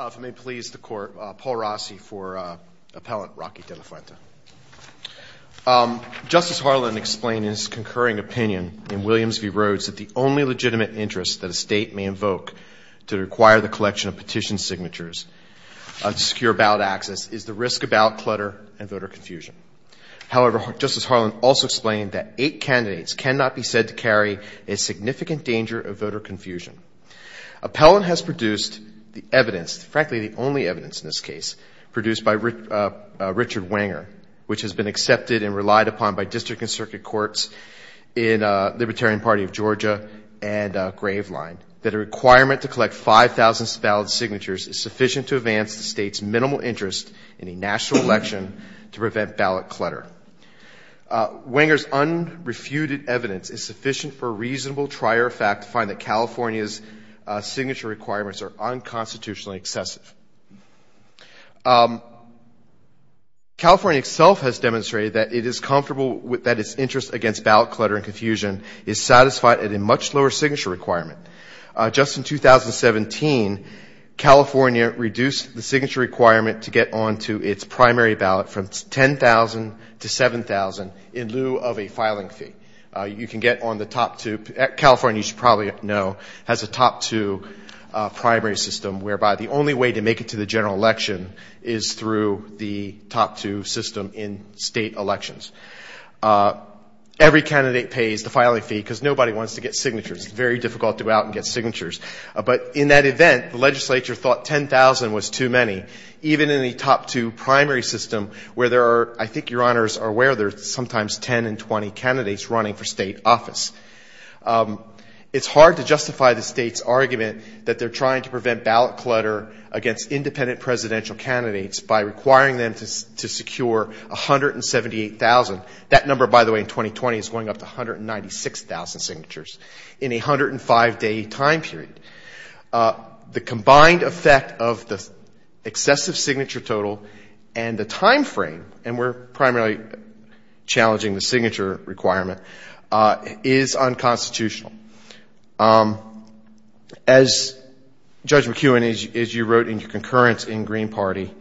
If it may please the Court, Paul Rossi for Appellant Roque De La Fuente. Justice Harlan explained in his concurring opinion in Williams v. Rhodes that the only legitimate interest that a state may invoke to require the collection of petition signatures to secure ballot access is the risk of ballot clutter and voter confusion. However, Justice Harlan also explained that eight candidates cannot be said to carry a significant danger of voter confusion. Appellant has produced the evidence, frankly the only evidence in this case, produced by Richard Wenger, which has been accepted and relied upon by district and circuit courts in Libertarian Party of Georgia and Graveline, that a requirement to collect 5,000 ballot signatures is sufficient to advance the state's minimal interest in a national election to prevent ballot clutter. Wenger's unrefuted evidence is sufficient for a reasonable trier of fact to find that California's signature requirements are unconstitutionally excessive. California itself has demonstrated that it is comfortable that its interest against ballot confusion is satisfied at a much lower signature requirement. Just in 2017, California reduced the signature requirement to get onto its primary ballot from 10,000 to 7,000 in lieu of a filing fee. You can get on the top two. California, you should probably know, has a top two primary system whereby the only way to make it to the general election is through the top two system in state elections. Every candidate pays the filing fee because nobody wants to get signatures. It's very difficult to go out and get signatures. But in that event, the legislature thought 10,000 was too many, even in the top two primary system where there are, I think your honors are aware, there's sometimes 10 and 20 candidates running for state office. It's hard to justify the state's argument that they're trying to prevent ballot clutter against independent presidential candidates by requiring them to secure 178,000. That number, by the way, in 2020 is going up to 196,000 signatures in a 105-day time period. The combined effect of the excessive signature total and the time frame, and we're primarily challenging the signature requirement, is unconstitutional. As Judge McEwen, as you wrote in your concurrence in Green Party,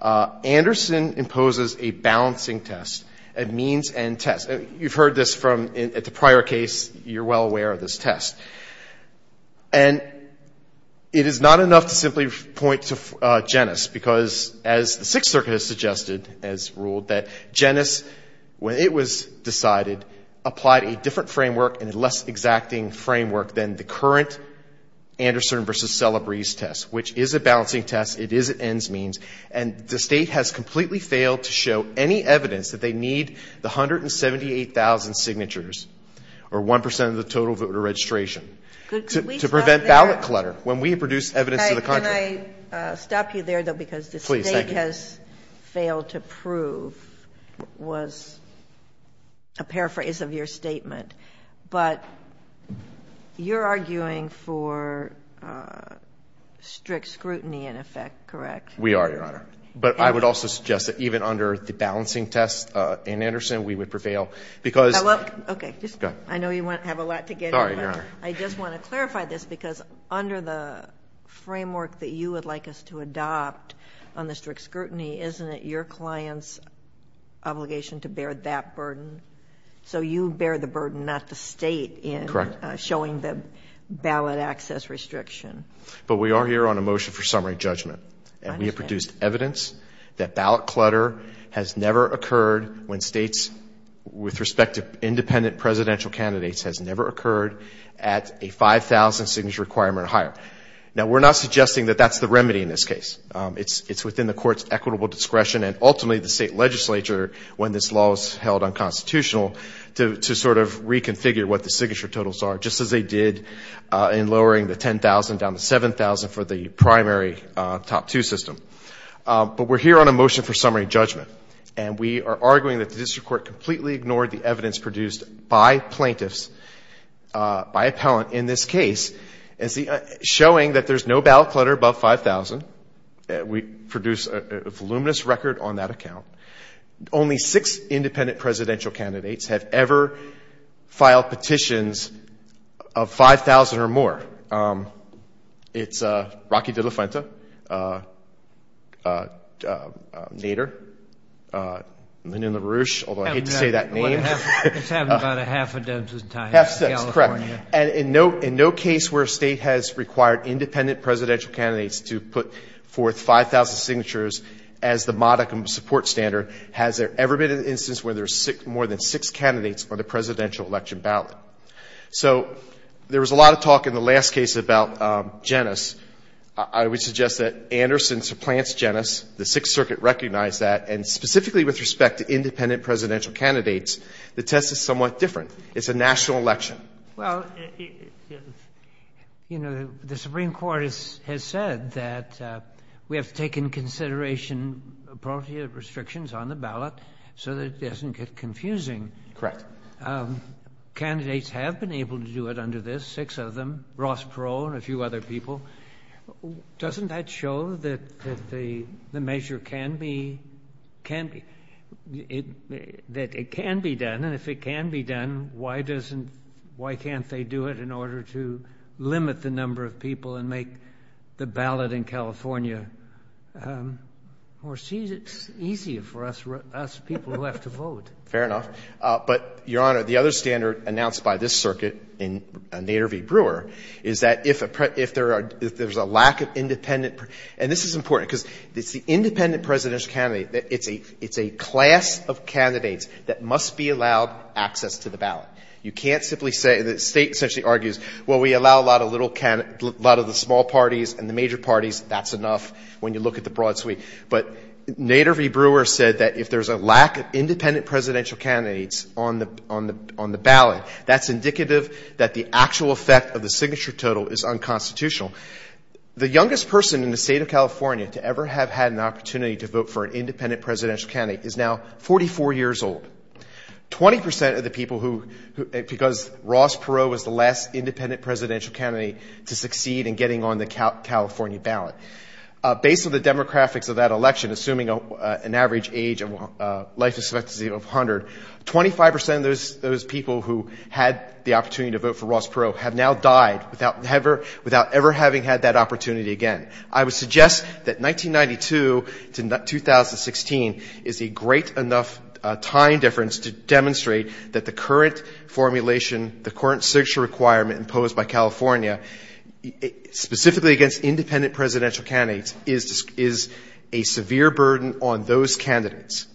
Anderson imposes a balancing test, a means and test. You've heard this from, at the prior case, you're well aware of this test. And it is not enough to simply point to Genes, because as the Sixth Circuit has suggested, as ruled, that Genes, when it was decided, applied a different framework and a less exacting framework than the current Anderson v. Celebrez test, which is a balancing test. It is an ends means. And the state has completely failed to show any evidence that they need the 178,000 signatures or 1% of the total voter registration to prevent ballot clutter when we produce evidence to the And I think what you wanted to prove was a paraphrase of your statement. But you're arguing for strict scrutiny, in effect, correct? We are, Your Honor. But I would also suggest that even under the balancing test in Anderson, we would prevail, because... I know you have a lot to get over. Sorry, Your Honor. I just want to clarify this, because under the framework that you would like us to adopt on the strict scrutiny, isn't it your client's obligation to bear that burden? So you bear the burden, not the state in showing the ballot access restriction. But we are here on a motion for summary judgment, and we have produced evidence that ballot clutter has never occurred when states, with respect to independent presidential candidates, has never occurred at a 5,000 signature requirement or higher. Now, we're not suggesting that that's the remedy in this case. It's within the court's equitable discretion and ultimately the state legislature, when this law is held unconstitutional, to sort of reconfigure what the signature totals are, just as they did in lowering the 10,000 down to 7,000 for the primary top two system. But we're here on a motion for summary judgment, and we are arguing that the district court completely ignored the evidence produced by plaintiffs, by appellant in this case, showing that there's no ballot clutter above 5,000. We produce a voluminous record on that account. Only six independent presidential candidates have ever filed petitions of 5,000 or more. It's Rocky De La Fenta, Nader, Lenin LaRouche, although I hate to say that name. It's having about a half a dozen times in California. And in no case where a state has required independent presidential candidates to put forth 5,000 signatures as the modicum support standard has there ever been an instance where there's more than six candidates for the presidential election ballot. So there was a lot of talk in the last case about Genes. I would suggest that Anderson supplants Genes. The Sixth Circuit recognized that. And specifically with respect to independent presidential candidates, the test is somewhat different. It's a national election. Well, you know, the Supreme Court has said that we have to take in consideration property restrictions on the ballot so that it doesn't get confusing. Correct. Candidates have been able to do it under this, six of them, Ross Perot and a few other people. Doesn't that show that the measure can be done? And if it can be done, why doesn't, why can't they do it in order to limit the number of people and make the ballot in California more easy for us people who have to vote? Fair enough. But, Your Honor, the other standard announced by this circuit in Nader v. Brewer is that if there's a lack of independent, and this is important, because it's the independent presidential candidate, it's a class of candidates that must be allowed access to the ballot. You can't simply say, the State essentially argues, well, we allow a lot of little, a lot of the small parties and the major parties, that's enough when you look at the broad suite. But Nader v. Brewer said that if there's a lack of independent presidential candidates on the ballot, that's indicative that the actual effect of the signature total is unconstitutional. The youngest person in the State of California to ever have had an opportunity to vote for an independent presidential candidate is now 44 years old. 20% of the people who, because Ross Perot was the last independent presidential candidate to succeed in getting on the California ballot, based on the demographics of that election, assuming an average age and life expectancy of 100, 25% of those people who had the opportunity to vote for Ross Perot have now died without ever having had that time difference to demonstrate that the current formulation, the current signature requirement imposed by California, specifically against independent presidential candidates, is a severe burden on those candidates.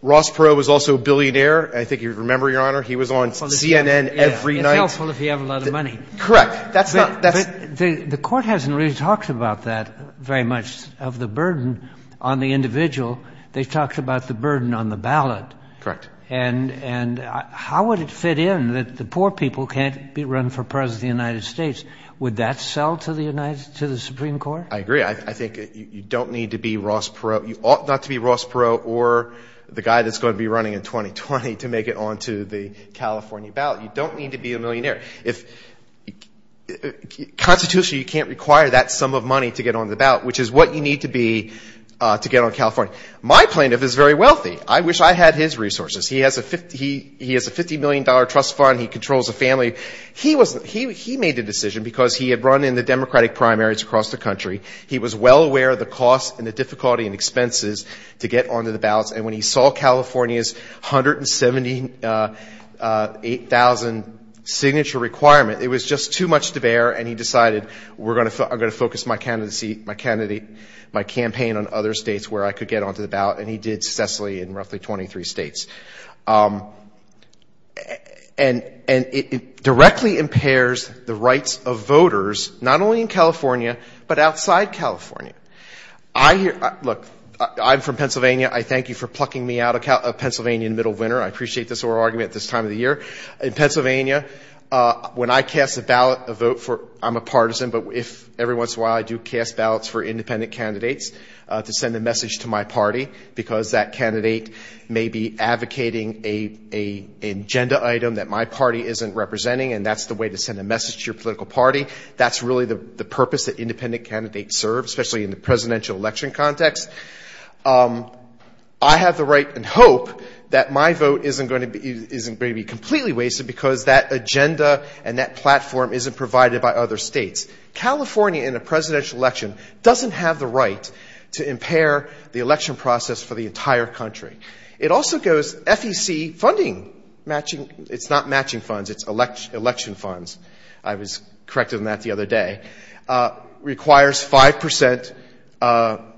Ross Perot was also a billionaire. I think you remember, Your Honor, he was on CNN every night. It's helpful if you have a lot of money. Correct. That's not, that's — The Court hasn't really talked about that very much, of the burden on the individual. They've talked about the burden on the ballot. Correct. And how would it fit in that the poor people can't be running for president of the United States? Would that sell to the United, to the Supreme Court? I agree. I think you don't need to be Ross Perot, you ought not to be Ross Perot or the guy that's going to be running in 2020 to make it onto the California ballot. You don't need to be a millionaire. If, constitutionally, you can't require that sum of money to get onto the ballot, which is what you need to be to get onto California. My plaintiff is very wealthy. I wish I had his resources. He has a $50 million trust fund. He controls a family. He made the decision because he had run in the Democratic primaries across the country. He was well aware of the cost and the difficulty and expenses to get onto the ballots. And when he saw California's 178,000 signature requirement, it was just too much to bear. And he decided, I'm going to focus my campaign on other states where I could get onto the ballot. And he did successfully in roughly 23 states. And it directly impairs the rights of voters, not only in California, but outside California. Look, I'm from Pennsylvania. I thank you for plucking me out of Pennsylvania in the middle of winter. I appreciate this oral argument at this time of the year. In Pennsylvania, when I cast a ballot, a vote for, I'm a partisan, but every once in a while I do cast ballots for independent candidates to send a message to my party, because that candidate may be advocating an agenda item that my party isn't representing, and that's the way to send a message to your political party. That's really the purpose that independent candidates serve, especially in the presidential election context. I have the right and hope that my vote isn't going to be completely wasted, because that agenda and that platform isn't provided by other states. California, in a presidential election, doesn't have the right to impair the election process for the entire country. It also goes, FEC funding, it's not matching funds, it's election funds, I was corrected on that the other day, requires 5%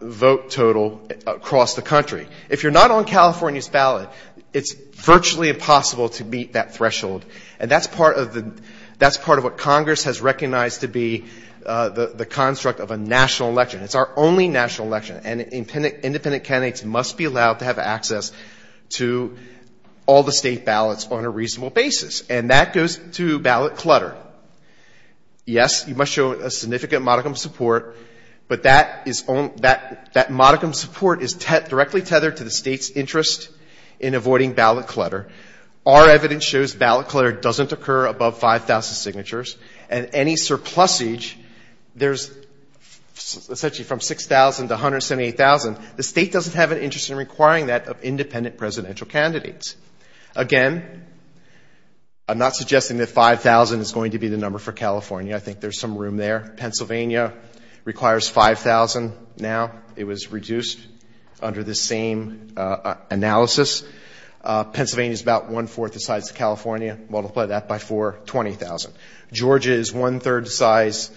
vote total across the country. If you're not on California's ballot, it's virtually impossible to meet that threshold. And that's part of the, that's part of what Congress has recognized to be the construct of a national election. It's our only national election, and independent candidates must be allowed to have access to all the state ballots on a reasonable basis, and that goes to ballot clutter. Yes, you must show a significant modicum of support, but that is, that modicum of support is directly tethered to the state's interest in avoiding ballot clutter. Our evidence shows ballot clutter doesn't occur above 5,000 signatures, and any surplusage, there's essentially from 6,000 to 178,000, the state doesn't have an interest in requiring that of independent presidential candidates. Again, I'm not suggesting that 5,000 is going to be the number for California. I think there's some room there. Pennsylvania requires 5,000 now. It was reduced under this same analysis. Pennsylvania's about one-fourth the size of California. Multiply that by 4, 20,000. Georgia is one-third the size,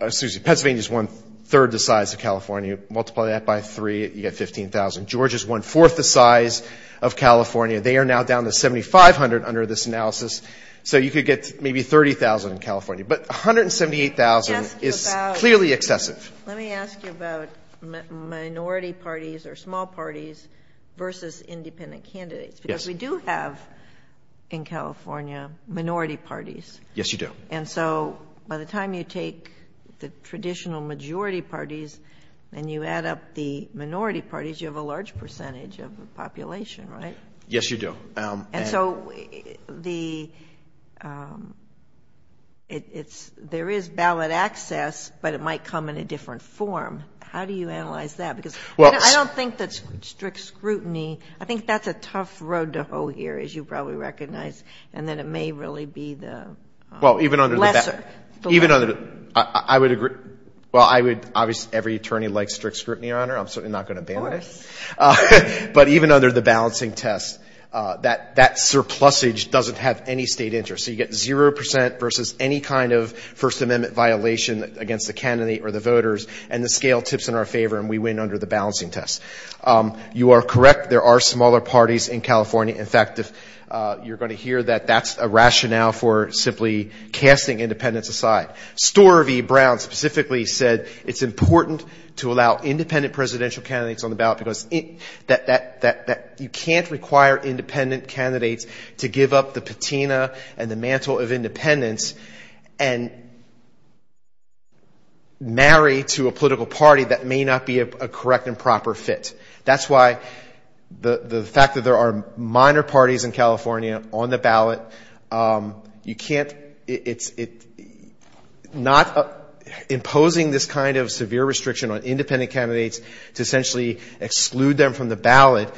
excuse me, Pennsylvania is one-third the size of California. Multiply that by 3, you get 15,000. Georgia's one-fourth the size of California. They are now down to 7,500 under this analysis, so you could get maybe 30,000 in California, but 178,000 is clearly excessive. Let me ask you about minority parties or small parties versus independent candidates, because we do have in California minority parties. Yes, you do. And so by the time you take the traditional majority parties and you add up the minority parties, you have a large percentage of the population, right? Yes, you do. And so the, it's, there is ballot access, but it might come in a different form. How do you analyze that? Because I don't think that strict scrutiny, I think that's a tough road to hoe here, as you probably recognize, and that it may really be the lesser. Well, even under the, even under the, I would agree, well, I would, obviously every attorney likes strict scrutiny, Your Honor, I'm certainly not going to ban that, but even under the balancing test, that surplusage doesn't have any state interest. So you get 0 percent versus any kind of First Amendment violation against the candidate or the voters, and the scale tips in our favor and we win under the balancing test. You are correct, there are smaller parties in California. In fact, you're going to hear that that's a rationale for simply casting independents aside. Storvie Brown specifically said it's important to allow independent presidential candidates on the ballot because you can't require independent candidates to give up the patina and the mantle of independence and marry to a political party that may not be a correct and proper fit. That's why the fact that there are minor parties in California on the ballot, you can't, it's not imposing this kind of severe restriction on independent candidates to essentially exclude them from the ballot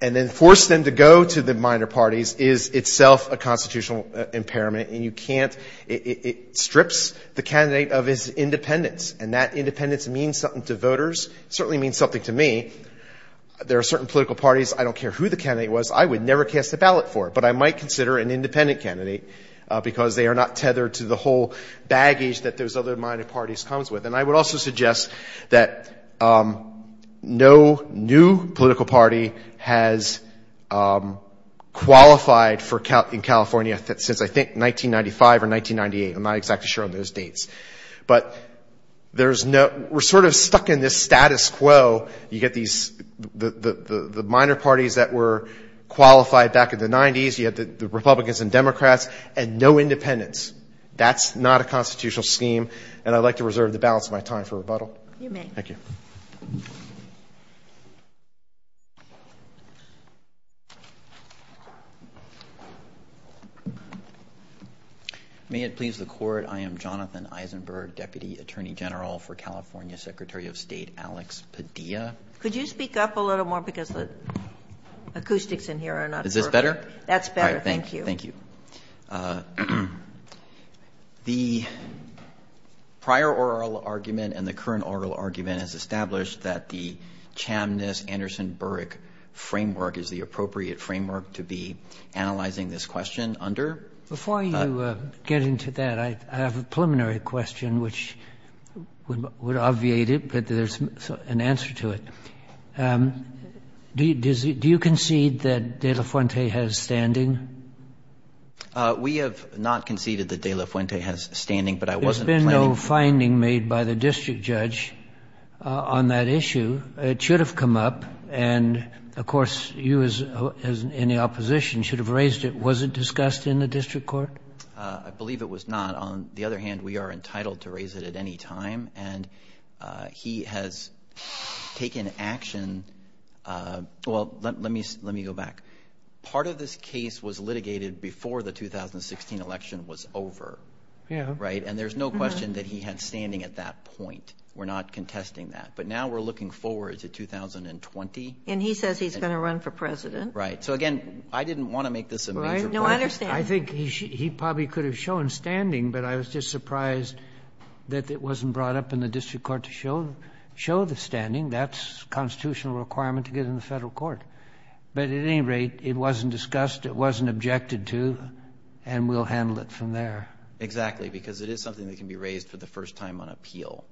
and then force them to go to the minor parties is itself a constitutional impairment, and you can't, it strips the candidate of his independence, and that independence means something to voters, certainly means something to me. There are certain political parties, I don't care who the candidate was, I would never cast a ballot for, but I might consider an independent candidate because they are not tethered to the whole baggage that those other minor parties comes with. And I would also suggest that no new political party has qualified in California since I was elected. There's no, we're sort of stuck in this status quo, you get these, the minor parties that were qualified back in the 90s, you had the Republicans and Democrats, and no independents. That's not a constitutional scheme, and I'd like to reserve the balance of my time for rebuttal. Thank you. May it please the Court, I am Jonathan Eisenberg, Deputy Attorney General for California, Secretary of State Alex Padilla. Could you speak up a little more because the acoustics in here are not perfect. Is this better? That's better, thank you. The prior oral argument and the current oral argument has established that the Chamniss-Anderson -Burek framework is the appropriate framework to be analyzing this question under. Before you get into that, I have a preliminary question, which would obviate it, but there's an answer to it. Do you concede that De La Fuente has standing in California? We have not conceded that De La Fuente has standing, but I wasn't planning to. There's been no finding made by the district judge on that issue. It should have come up, and of course, you as in the opposition should have raised it. Was it discussed in the district court? I believe it was not. On the other hand, we are entitled to raise it at any time, and he has taken action. Well, let me go back. Part of this case was litigated by the District Court before the 2016 election was over, and there's no question that he had standing at that point. We're not contesting that, but now we're looking forward to 2020. He says he's going to run for president. Right. Again, I didn't want to make this a major point. I think he probably could have shown standing, but I was just surprised that it wasn't brought up in the district court to show the standing. That's a constitutional requirement to get in the federal court. At any rate, it wasn't discussed. It wasn't objected to, and we'll handle it from there. Exactly, because it is something that can be raised for the first time on appeal.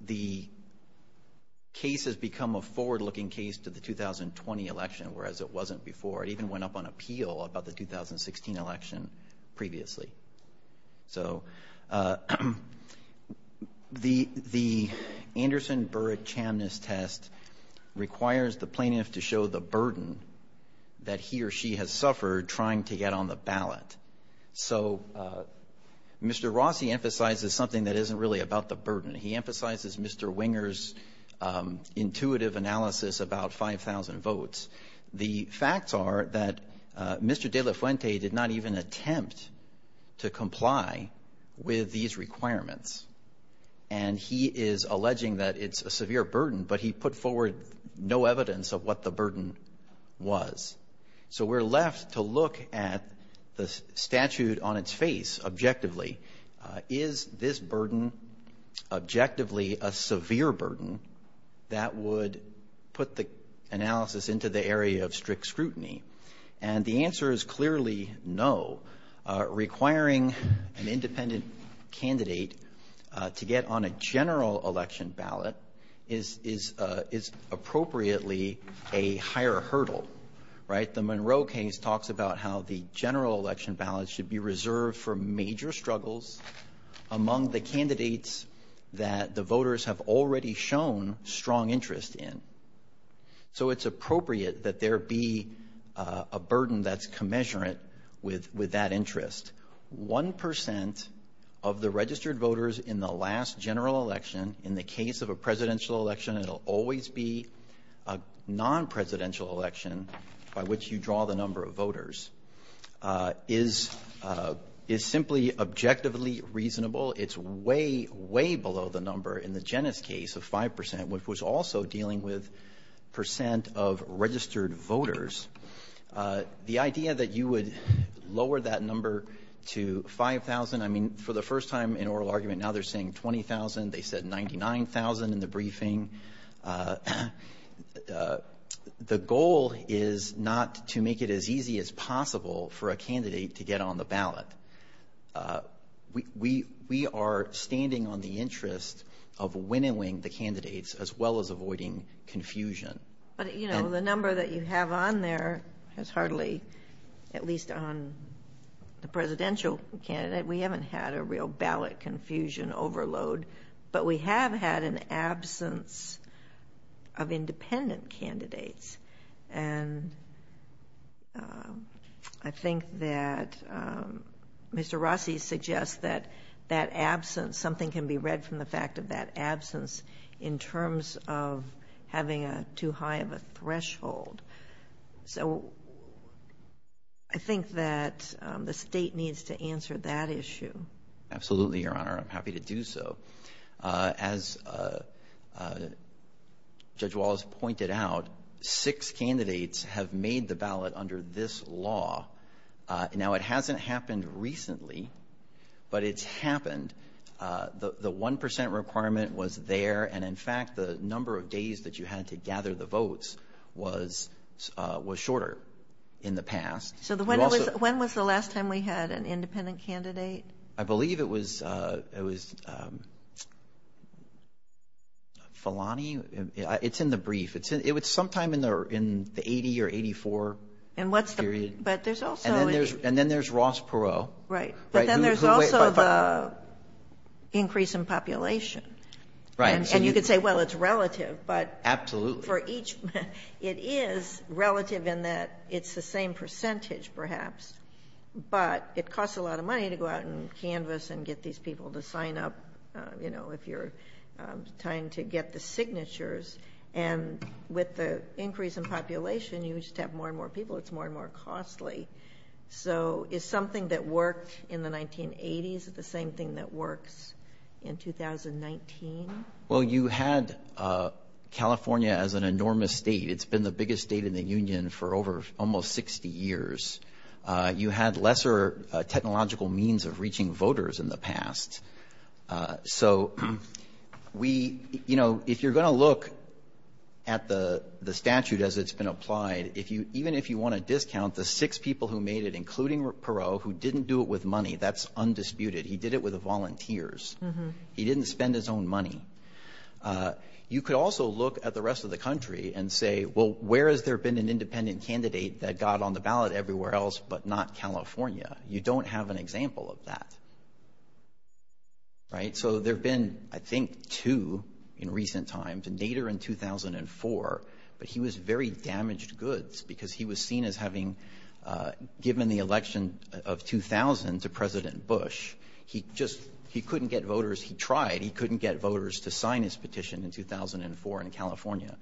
The case has become a forward-looking case to the 2020 election, whereas it wasn't before. It even went up on appeal about the 2016 election previously. So, the Anderson-Burrett-Chamnes test requires the plaintiff to show the burden that he or she has suffered trying to get on the ballot. So, Mr. Rossi emphasizes something that isn't really about the burden. He emphasizes Mr. Winger's intuitive analysis about 5,000 votes. The facts are that Mr. De La Fuente did not even attempt to comply with these requirements, and he is alleging that it's a severe burden, but he put forward no evidence of what the burden was. So, we're left to look at the statute on its face objectively. Is this burden objectively a severe burden that would put the analysis into the area of strict scrutiny? And the answer is clearly no. Requiring an independent candidate to get on a general election ballot is appropriately a higher hurdle, right? The Monroe case talks about how the general election ballot should be reserved for major struggles among the candidates that the voters have already shown strong interest in. So, it's appropriate that there be a burden that's commensurate with that interest. One percent of the registered voters in the last general election, in the case of a presidential election, it'll always be a non-presidential election by which you draw the number of voters, is simply objectively reasonable. It's way, way below the number in the Genes case of 5 percent, which was also dealing with percent of registered voters. The idea that you would lower that number to 5,000, I mean, for the first time in oral argument, now they're saying 20,000. They said 99,000 in the briefing. The goal is not to make it as easy as possible for a candidate to get on the ballot. We are standing on the interest of winnowing the candidates as well as avoiding confusion. But, you know, the number that you have on there is hardly, at least on the presidential candidate, we haven't had a real ballot confusion overload. But we have had an absence of independent candidates. And I think that Mr. Rossi suggests that that absence, something can be read from the fact of that absence in terms of having too high of a threshold. So, I think that the State needs to answer that issue. Absolutely, Your Honor. I'm happy to do so. As Judge Wallace pointed out, six candidates have made the ballot under this law. Now, it hasn't happened recently, but it's happened. The 1 percent requirement was there. And in fact, the number of days that you had to gather the votes was shorter in the past. When was the last time we had an independent candidate? I believe it was Filani. It's in the brief. It's sometime in the 80 or 84 period. And then there's Ross Perot. But then there's also the increase in population. And you could say, well, it's relative, but it is relative in that it's the same percentage, perhaps. But it costs a lot of money to go out and canvass and get these people to sign up, you know, if you're trying to get the signatures. And with the increase in population, you used to have more and more people. It's more and more costly. So, is something that worked in the 1980s the same thing that works in 2019? Well, you had California as an enormous state. It's been the biggest state in the union for over almost 60 years. You had lesser technological means of reaching voters in the past. So, we you know, if you're going to look at the statute as it's been applied, if you even if you want to discount the six people who made it, including Perot, who didn't do it with money, that's undisputed. He did it with volunteers. He didn't spend his own money. You could also look at the rest of the country and say, well, where has there been an independent candidate that got on the ballot everywhere else but not California? You don't have an example of that. Right? So, there have been, I think, two in recent times, Nader in 2004. But he was very damaged goods because he was seen as having given the election of 2000 to President Bush. He just he couldn't get voters. He tried. He couldn't get voters to sign his petition in 2004 in California.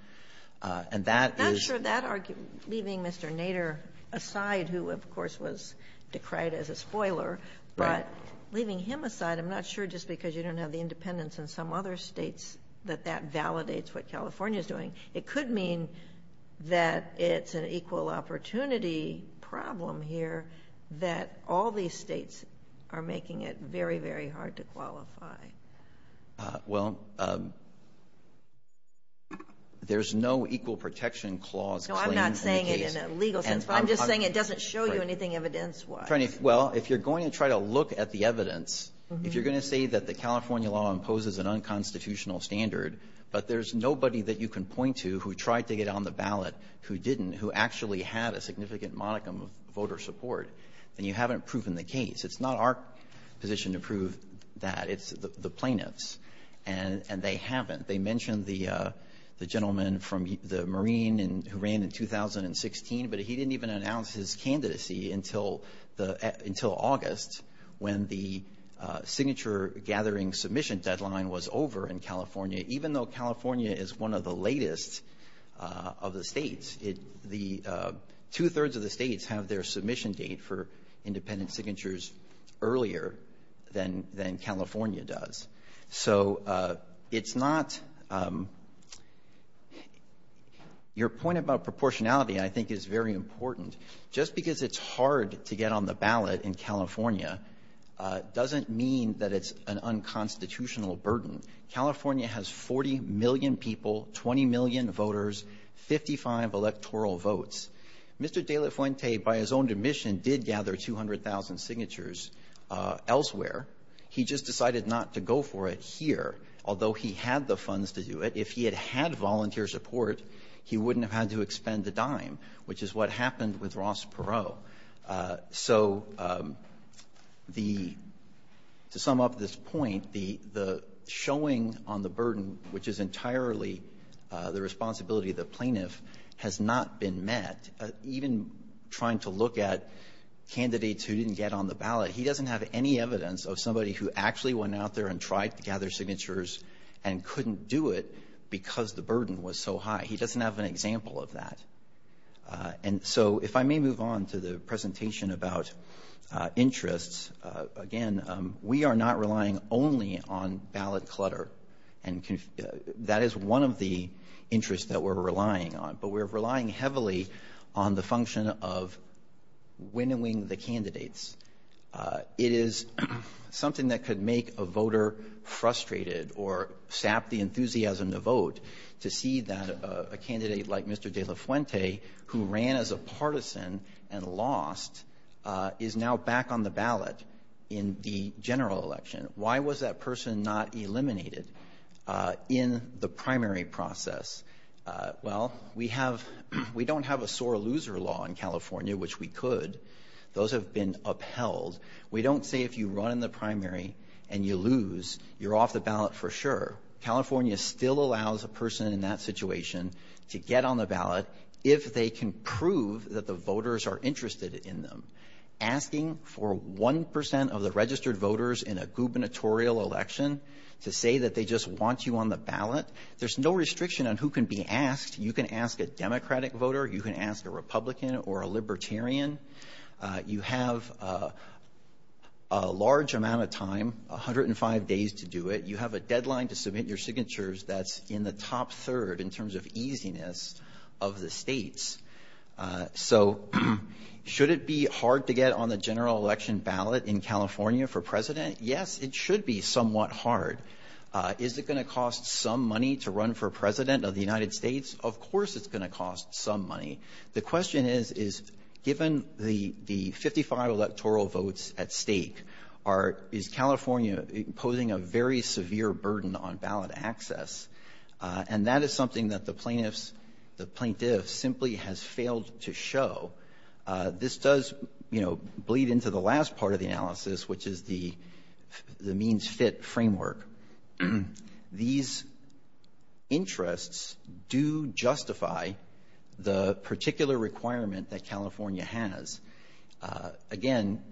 And that is I'm not sure that argument, leaving Mr. Nader aside, who of course was decried as a spoiler, but leaving him aside, I'm not sure just because you don't have the independents in some other states that that validates what California is doing. It could mean that it's an equal opportunity problem here that all these states are making it very, very hard to qualify. Well, there's no equal protection clause. No, I'm not saying it in a legal sense, but I'm just saying it doesn't show you anything evidence wise. Well, if you're going to try to look at the evidence, if you're going to say that the California law imposes an unconstitutional standard, but there's nobody that you can point to who tried to get on the ballot who didn't, who actually had a significant modicum of voter support, then you haven't proven the case. It's not our position to prove that. It's the plaintiffs. And they haven't. They mentioned the gentleman from the Marine who ran in 2016, but he didn't even announce his candidacy until August when the signature gathering submission deadline was over in California, even though California is one of the latest of the states. Two-thirds of the states have their submission date for independent signatures earlier than California does. So it's not... Your point about proportionality I think is very important. Just because it's hard to get on the ballot in California doesn't mean that it's an unconstitutional burden. California has 40 million people, 20 million voters, 55 electoral votes. Mr. De La Fuente, by his own admission, did gather 200,000 signatures elsewhere. He just decided not to go for it here, although he had the funds to do it. If he had had volunteer support, he wouldn't have had to dime, which is what happened with Ross Perot. So the... To sum up this point, the showing on the burden, which is entirely the responsibility of the plaintiff, has not been met. Even trying to look at candidates who didn't get on the ballot, he doesn't have any evidence of somebody who actually went out there and tried to gather signatures and couldn't do it because the burden was so high. He doesn't have an example of that. And so if I may move on to the presentation about interests, again, we are not relying only on ballot clutter. And that is one of the interests that we're relying on. But we're relying heavily on the function of winnowing the candidates. It is something that could make a voter frustrated or sap the enthusiasm to vote to see that a candidate like Mr. De La Fuente, who ran as a partisan and lost, is now back on the ballot in the general election. Why was that person not eliminated in the primary process? Well, we have — we don't have a sore loser law in California, which we could. Those have been upheld. We don't say if you run in the ballot for sure. California still allows a person in that situation to get on the ballot if they can prove that the voters are interested in them. Asking for 1 percent of the registered voters in a gubernatorial election to say that they just want you on the ballot, there's no restriction on who can be asked. You can ask a Democratic voter. You can ask a Republican or a Libertarian. You have a large amount of time, 105 days to do it. You have a deadline to submit your signatures that's in the top third in terms of easiness of the states. So should it be hard to get on the general election ballot in California for president? Yes, it should be somewhat hard. Is it going to cost some money to run for president of the United States? Of course it's going to cost some money. The question is, is given the 55 electoral votes at stake, is California posing a very severe burden on ballot access? And that is something that the plaintiffs simply have failed to show. This does bleed into the last part of the analysis, which is the means fit framework. These interests do justify the particular requirement that California has. Again,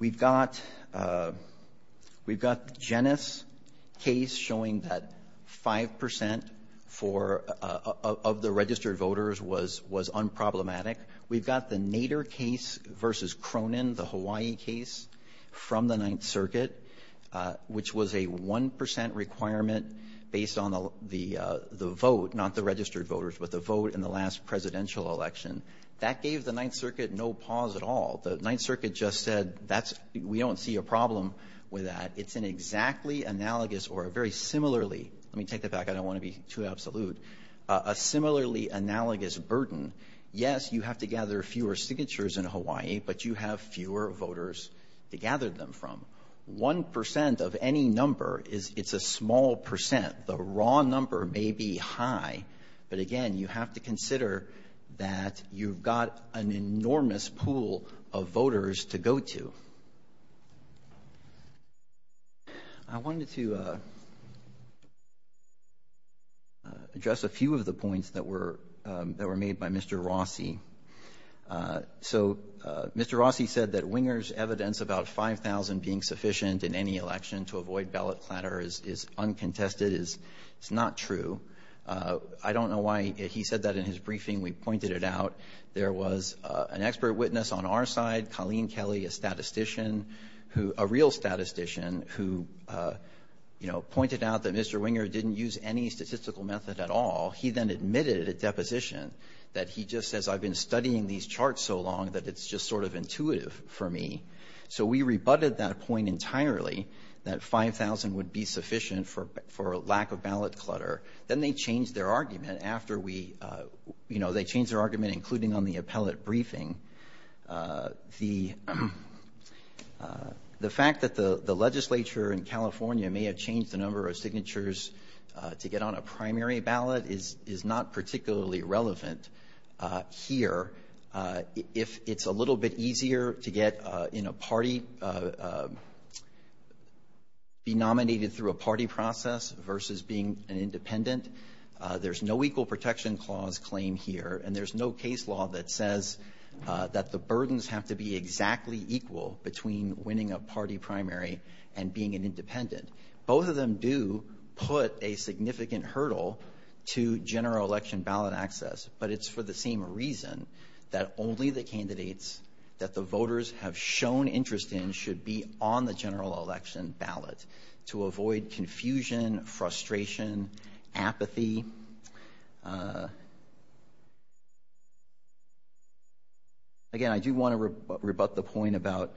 we've got, we've got Jenner's case showing that 5 percent for, of the registered voters was, was unproblematic. We've got the Nader case versus Cronin, the Hawaii case from the Ninth Circuit, which was a 1 percent requirement based on the vote, not the registered voters, but the vote in the last presidential election. That gave the Ninth Circuit no pause at all. The Ninth Circuit just said, that's, we don't see a problem with that. It's an exactly analogous or a very similarly, let me take that back, I don't want to be too absolute, a similarly analogous burden. Yes, you have to gather fewer signatures in Hawaii, but you have fewer voters to gather them from. 1 percent of any number is, it's a small percent. The raw number may be high, but again, you have to consider that you've got an enormous pool of voters to go to. I wanted to address a few of the points that were, that were made by Mr. Rossi. So Mr. Rossi said that Winger's evidence about 5,000 being sufficient in any election to avoid ballot platter is uncontested, is not true. I don't know why he said that in his briefing. We pointed it out. There was an expert witness on our side, Colleen Kelly, a statistician who, a real statistician who, you know, pointed out that Mr. Winger didn't use any statistical method at all. He then admitted at deposition that he just says, I've been studying these numbers, it's not intuitive for me. So we rebutted that point entirely, that 5,000 would be sufficient for, for lack of ballot clutter. Then they changed their argument after we, you know, they changed their argument, including on the appellate briefing. The, the fact that the legislature in California may have changed the number of signatures to get on a primary relevant here. If it's a little bit easier to get in a party, be nominated through a party process versus being an independent, there's no equal protection clause claim here, and there's no case law that says that the burdens have to be exactly equal between winning a party primary and being an independent. Both of them do put a significant hurdle to general election ballot access, but it's for the same reason that only the candidates that the voters have shown interest in should be on the general election ballot to avoid confusion, frustration, apathy. Again, I do want to rebut the point about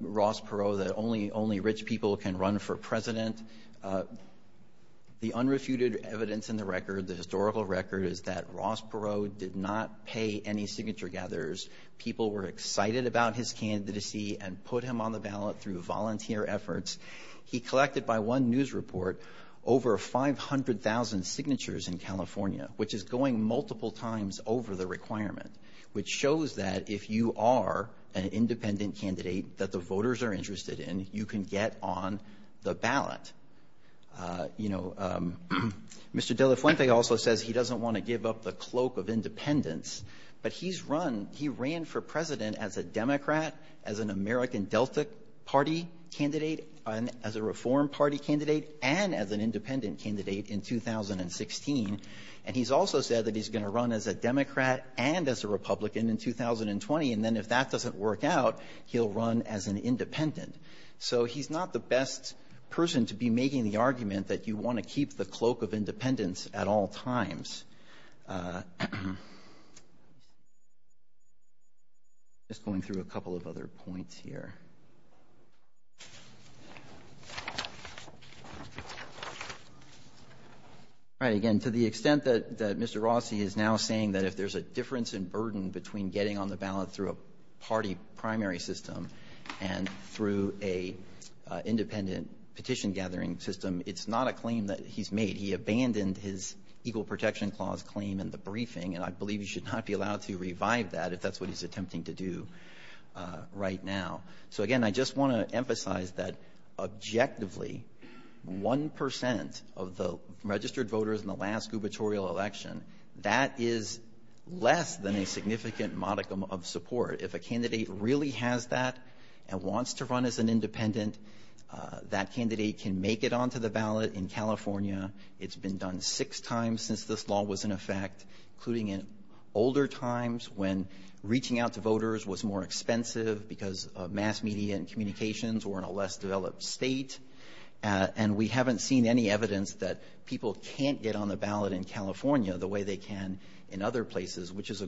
Ross Perot that only rich people can run for president. The unrefuted evidence in the record, the historical record is that Ross Perot did not pay any signature gatherers. People were excited about his candidacy and put him on the ballot through volunteer efforts. He collected by one news report over 500,000 signatures in California, which is going multiple times over the requirement, which shows that if you are an independent candidate that the voters are interested in, you can get on the ballot. Mr. De La Fuente also says he doesn't want to give up the cloak of independence, but he ran for president as a Democrat, as an American Delta Party candidate, as a Reform Party candidate, and as an independent candidate in 2016, and he's also said that he's going to run as a Democrat and as a Republican in 2020, and then if that doesn't work out, he'll run as an independent. So he's not the best person to be making the argument that you want to keep the cloak of independence at all times. Just going through a couple of other points here. Right, again, to the extent that, that Mr. De La Fuente is now saying that if there's a difference in burden between getting on the ballot through a party primary system and through a independent petition gathering system, it's not a claim that he's made. He abandoned his Equal Protection Clause claim in the briefing, and I believe he should not be allowed to revive that if that's what he's attempting to do right now. So again, I just want to emphasize that objectively, 1% of the registered voters in the last gubernatorial election, that is less than a significant modicum of support. If a candidate really has that and wants to run as an independent, that candidate can make it onto the ballot in California. It's been done six times since this law was in effect, including in older times when reaching out to voters was more expensive because of mass media and communications or in a less developed state, and we haven't seen any evidence that people can't get on the ballot in California the way they can in other places, which is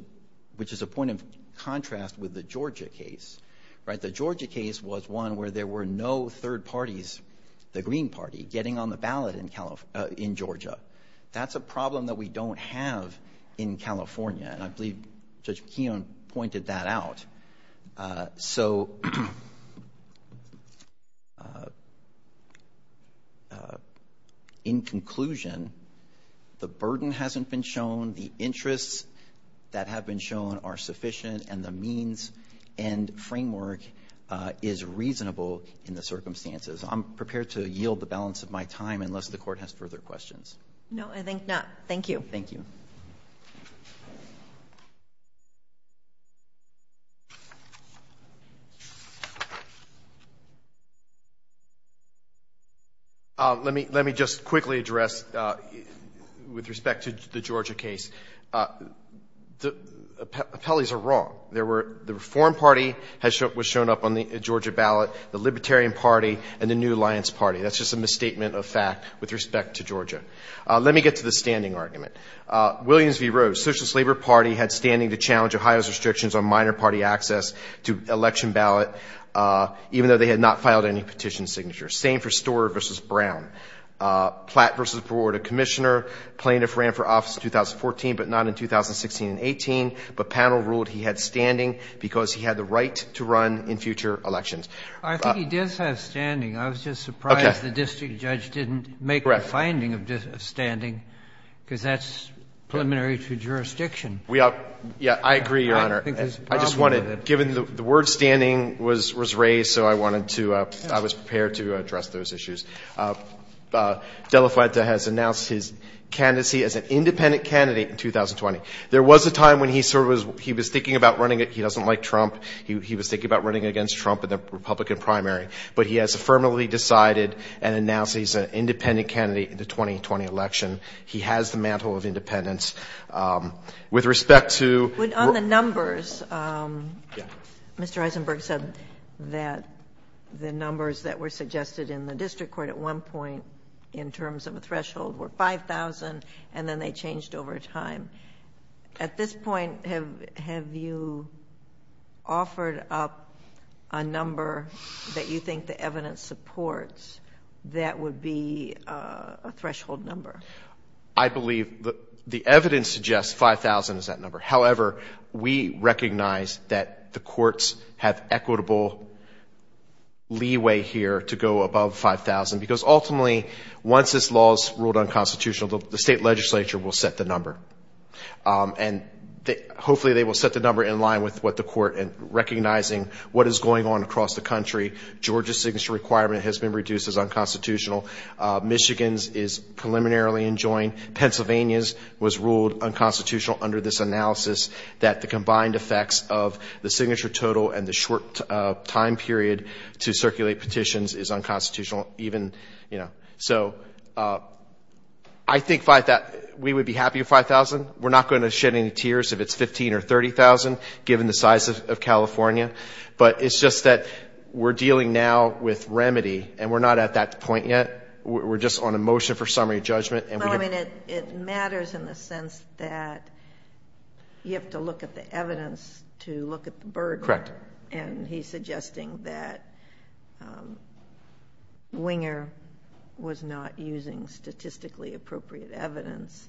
a point of contrast with the Georgia case, right? The Georgia case was one where there were no third parties, the Green Party, getting on the ballot in Georgia. That's a problem that we don't have in California, and I believe Judge McKeon pointed that out. So, in conclusion, I think the burden hasn't been shown, the interests that have been shown are sufficient, and the means and framework is reasonable in the circumstances. I'm prepared to yield the balance of my time unless the Court has further questions. MS. MCKEON No, I think not. Thank you. MR. BOUTROUS Thank you. MR. MCKEON Let me just quickly address, with respect to the Georgia case, the appellees are wrong. The Reform Party was shown up on the Georgia ballot, the Libertarian Party, and the New Alliance Party. That's just a misstatement of fact with respect to Georgia. Let me get to the standing argument. Williams v. Rhodes, Socialist Labor Party had standing to challenge Ohio's restrictions on minor party access to election ballot, even though they had not filed any petition signatures. Same for Storer v. Brown. Platt v. Perot, a commissioner, plaintiff ran for office in 2014, but not in 2016 and 18, but panel ruled he had standing because he had the right to run in future elections. MR. MCKEON I think he does have standing. I was just surprised the district judge didn't make the finding of standing, because that's preliminary to jurisdiction. MR. BOUTROUS I agree, Your Honor. I just wanted, given the word standing was raised, so I wanted to, I was prepared to address those issues. Della Fuente has announced his candidacy as an independent candidate in 2020. There was a time when he sort of was, he was thinking about running, he doesn't like Trump, he was thinking about running against Trump in the Republican primary, but he has affirmatively decided and announced he's an independent candidate in the 2020 election. He has the mantle of independence. With respect to JUSTICE GINSBURG On the numbers, Mr. Eisenberg said that the numbers that were suggested in the district court at one point in terms of a threshold were 5,000, and then they offered up a number that you think the evidence supports that would be a threshold number. MR. MCKEON I believe the evidence suggests 5,000 is that number. However, we recognize that the courts have equitable leeway here to go above 5,000, because ultimately once this law is ruled unconstitutional, the state legislature will set the number. And hopefully they will set the number in line with what the court, and recognizing what is going on across the country. Georgia's signature requirement has been reduced as unconstitutional. Michigan's is preliminarily enjoined. Pennsylvania's was ruled unconstitutional under this analysis that the combined effects of the signature total and the short time period to circulate petitions is unconstitutional. So I think we would be happy with 5,000. We're not going to shed any tears if it's 15,000 or 30,000, given the size of California. But it's just that we're dealing now with remedy, and we're not at that point yet. We're just on a motion for summary judgment, and we're going to... JUSTICE GINSBURG Well, I mean, it matters in the sense that you have to look at the evidence to look at the burden, and he's suggesting that Winger was not using statistically appropriate evidence. MR.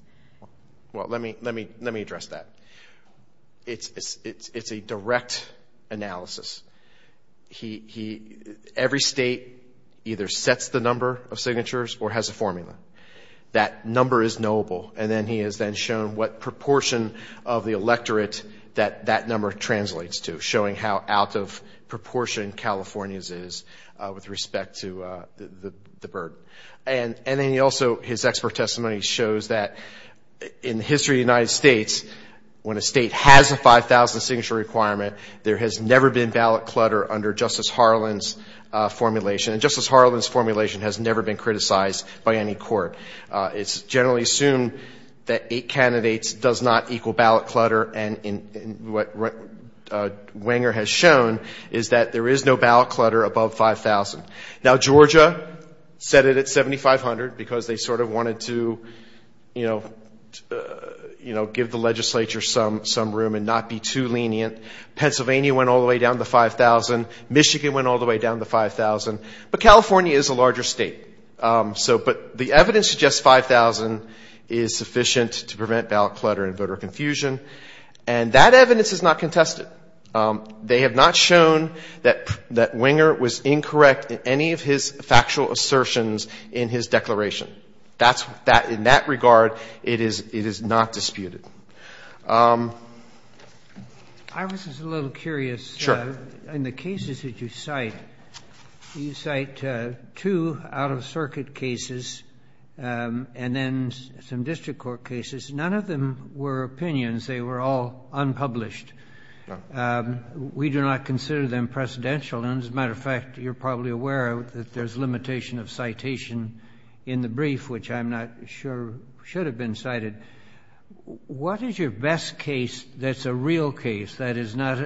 BROWNLEE Well, let me address that. It's a direct analysis. Every state either sets the number of signatures or has a formula. That number is knowable, and then he has then shown what proportion of the electorate that that number translates to, showing how out of proportion California's is with respect to the burden. And then he also, his expert testimony shows that in the history of the United States, when a state has a 5,000 signature requirement, there has never been ballot clutter under Justice Harlan's formulation. And Justice Harlan's formulation has never been criticized by any court. It's generally assumed that eight candidates does not equal ballot clutter, and what Winger has shown is that there is no ballot clutter above 5,000. Now, Georgia set it at 7,500 because they sort of wanted to, you know, give the legislature some room and not be too lenient. Pennsylvania went all the way down to 5,000. Michigan went all the way down to 5,000. But California is a larger state. So, but the evidence suggests 5,000 is sufficient to prevent ballot clutter and voter confusion, and that evidence is not contested. They have not shown that Winger was incorrect in any of his factual assertions in his declaration. That's, in that regard, it is not disputed. I was just a little curious, in the cases that you cite, you cite two out-of-circuit cases and then some district court cases. None of them were opinions. They were all unpublished. We do not consider them precedential. And, as a matter of fact, you're probably aware that there's limitation of citation in the brief, which I'm not sure should have been cited. What is your best case that's a real case, that is not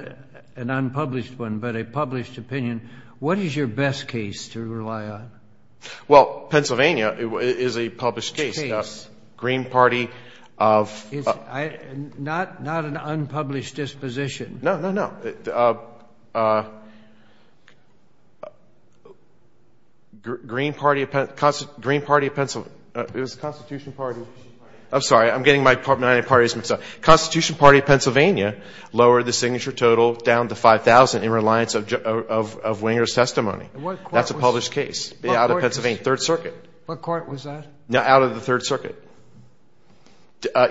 an unpublished one, but a published opinion? What is your best case to rely on? Well, Pennsylvania is a published case. Case. Green Party of It's not an unpublished disposition. No, no, no. Green Party of Pennsylvania. It was the Constitution Party. I'm sorry. I'm getting my party's name wrong. Constitution Party of Pennsylvania lowered the signature total down to 5,000 in reliance of Winger's testimony. That's a published case out of Pennsylvania, Third Circuit. What court was that? Out of the Third Circuit.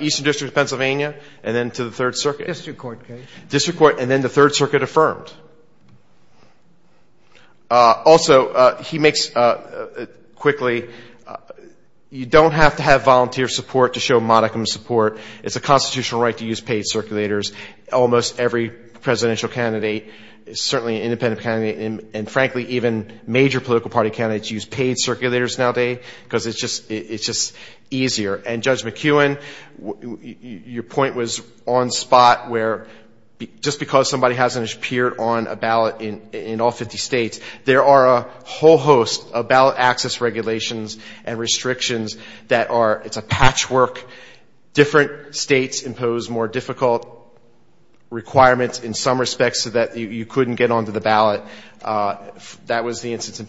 Eastern District of Pennsylvania and then to the Third Circuit. District Court case. District Court and then the Third Circuit affirmed. Also, he makes quickly, you don't have to have volunteer support to show modicum support. It's a constitutional right to use paid circulators. Almost every presidential candidate, certainly an independent candidate, and frankly even major political party candidates use paid circulators nowadays because it's just easier. And Judge McEwen, your point was on spot where just because somebody hasn't appeared on a ballot in all 50 states, there are a whole host of ballot access regulations and restrictions that are, it's a patchwork. Different states impose more difficult requirements in some respects so that you couldn't get onto the ballot. That was the instance in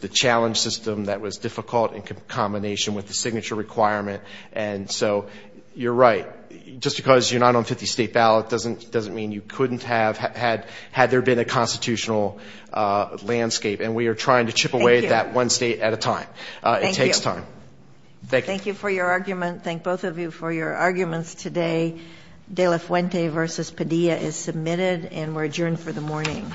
the system that was difficult in combination with the signature requirement. And so you're right. Just because you're not on 50 state ballot doesn't mean you couldn't have had there been a constitutional landscape. And we are trying to chip away at that one state at a time. It takes time. Thank you for your argument. Thank both of you for your arguments today. De La Fuente v. Padilla is submitted and we're adjourned for the morning. Thank you.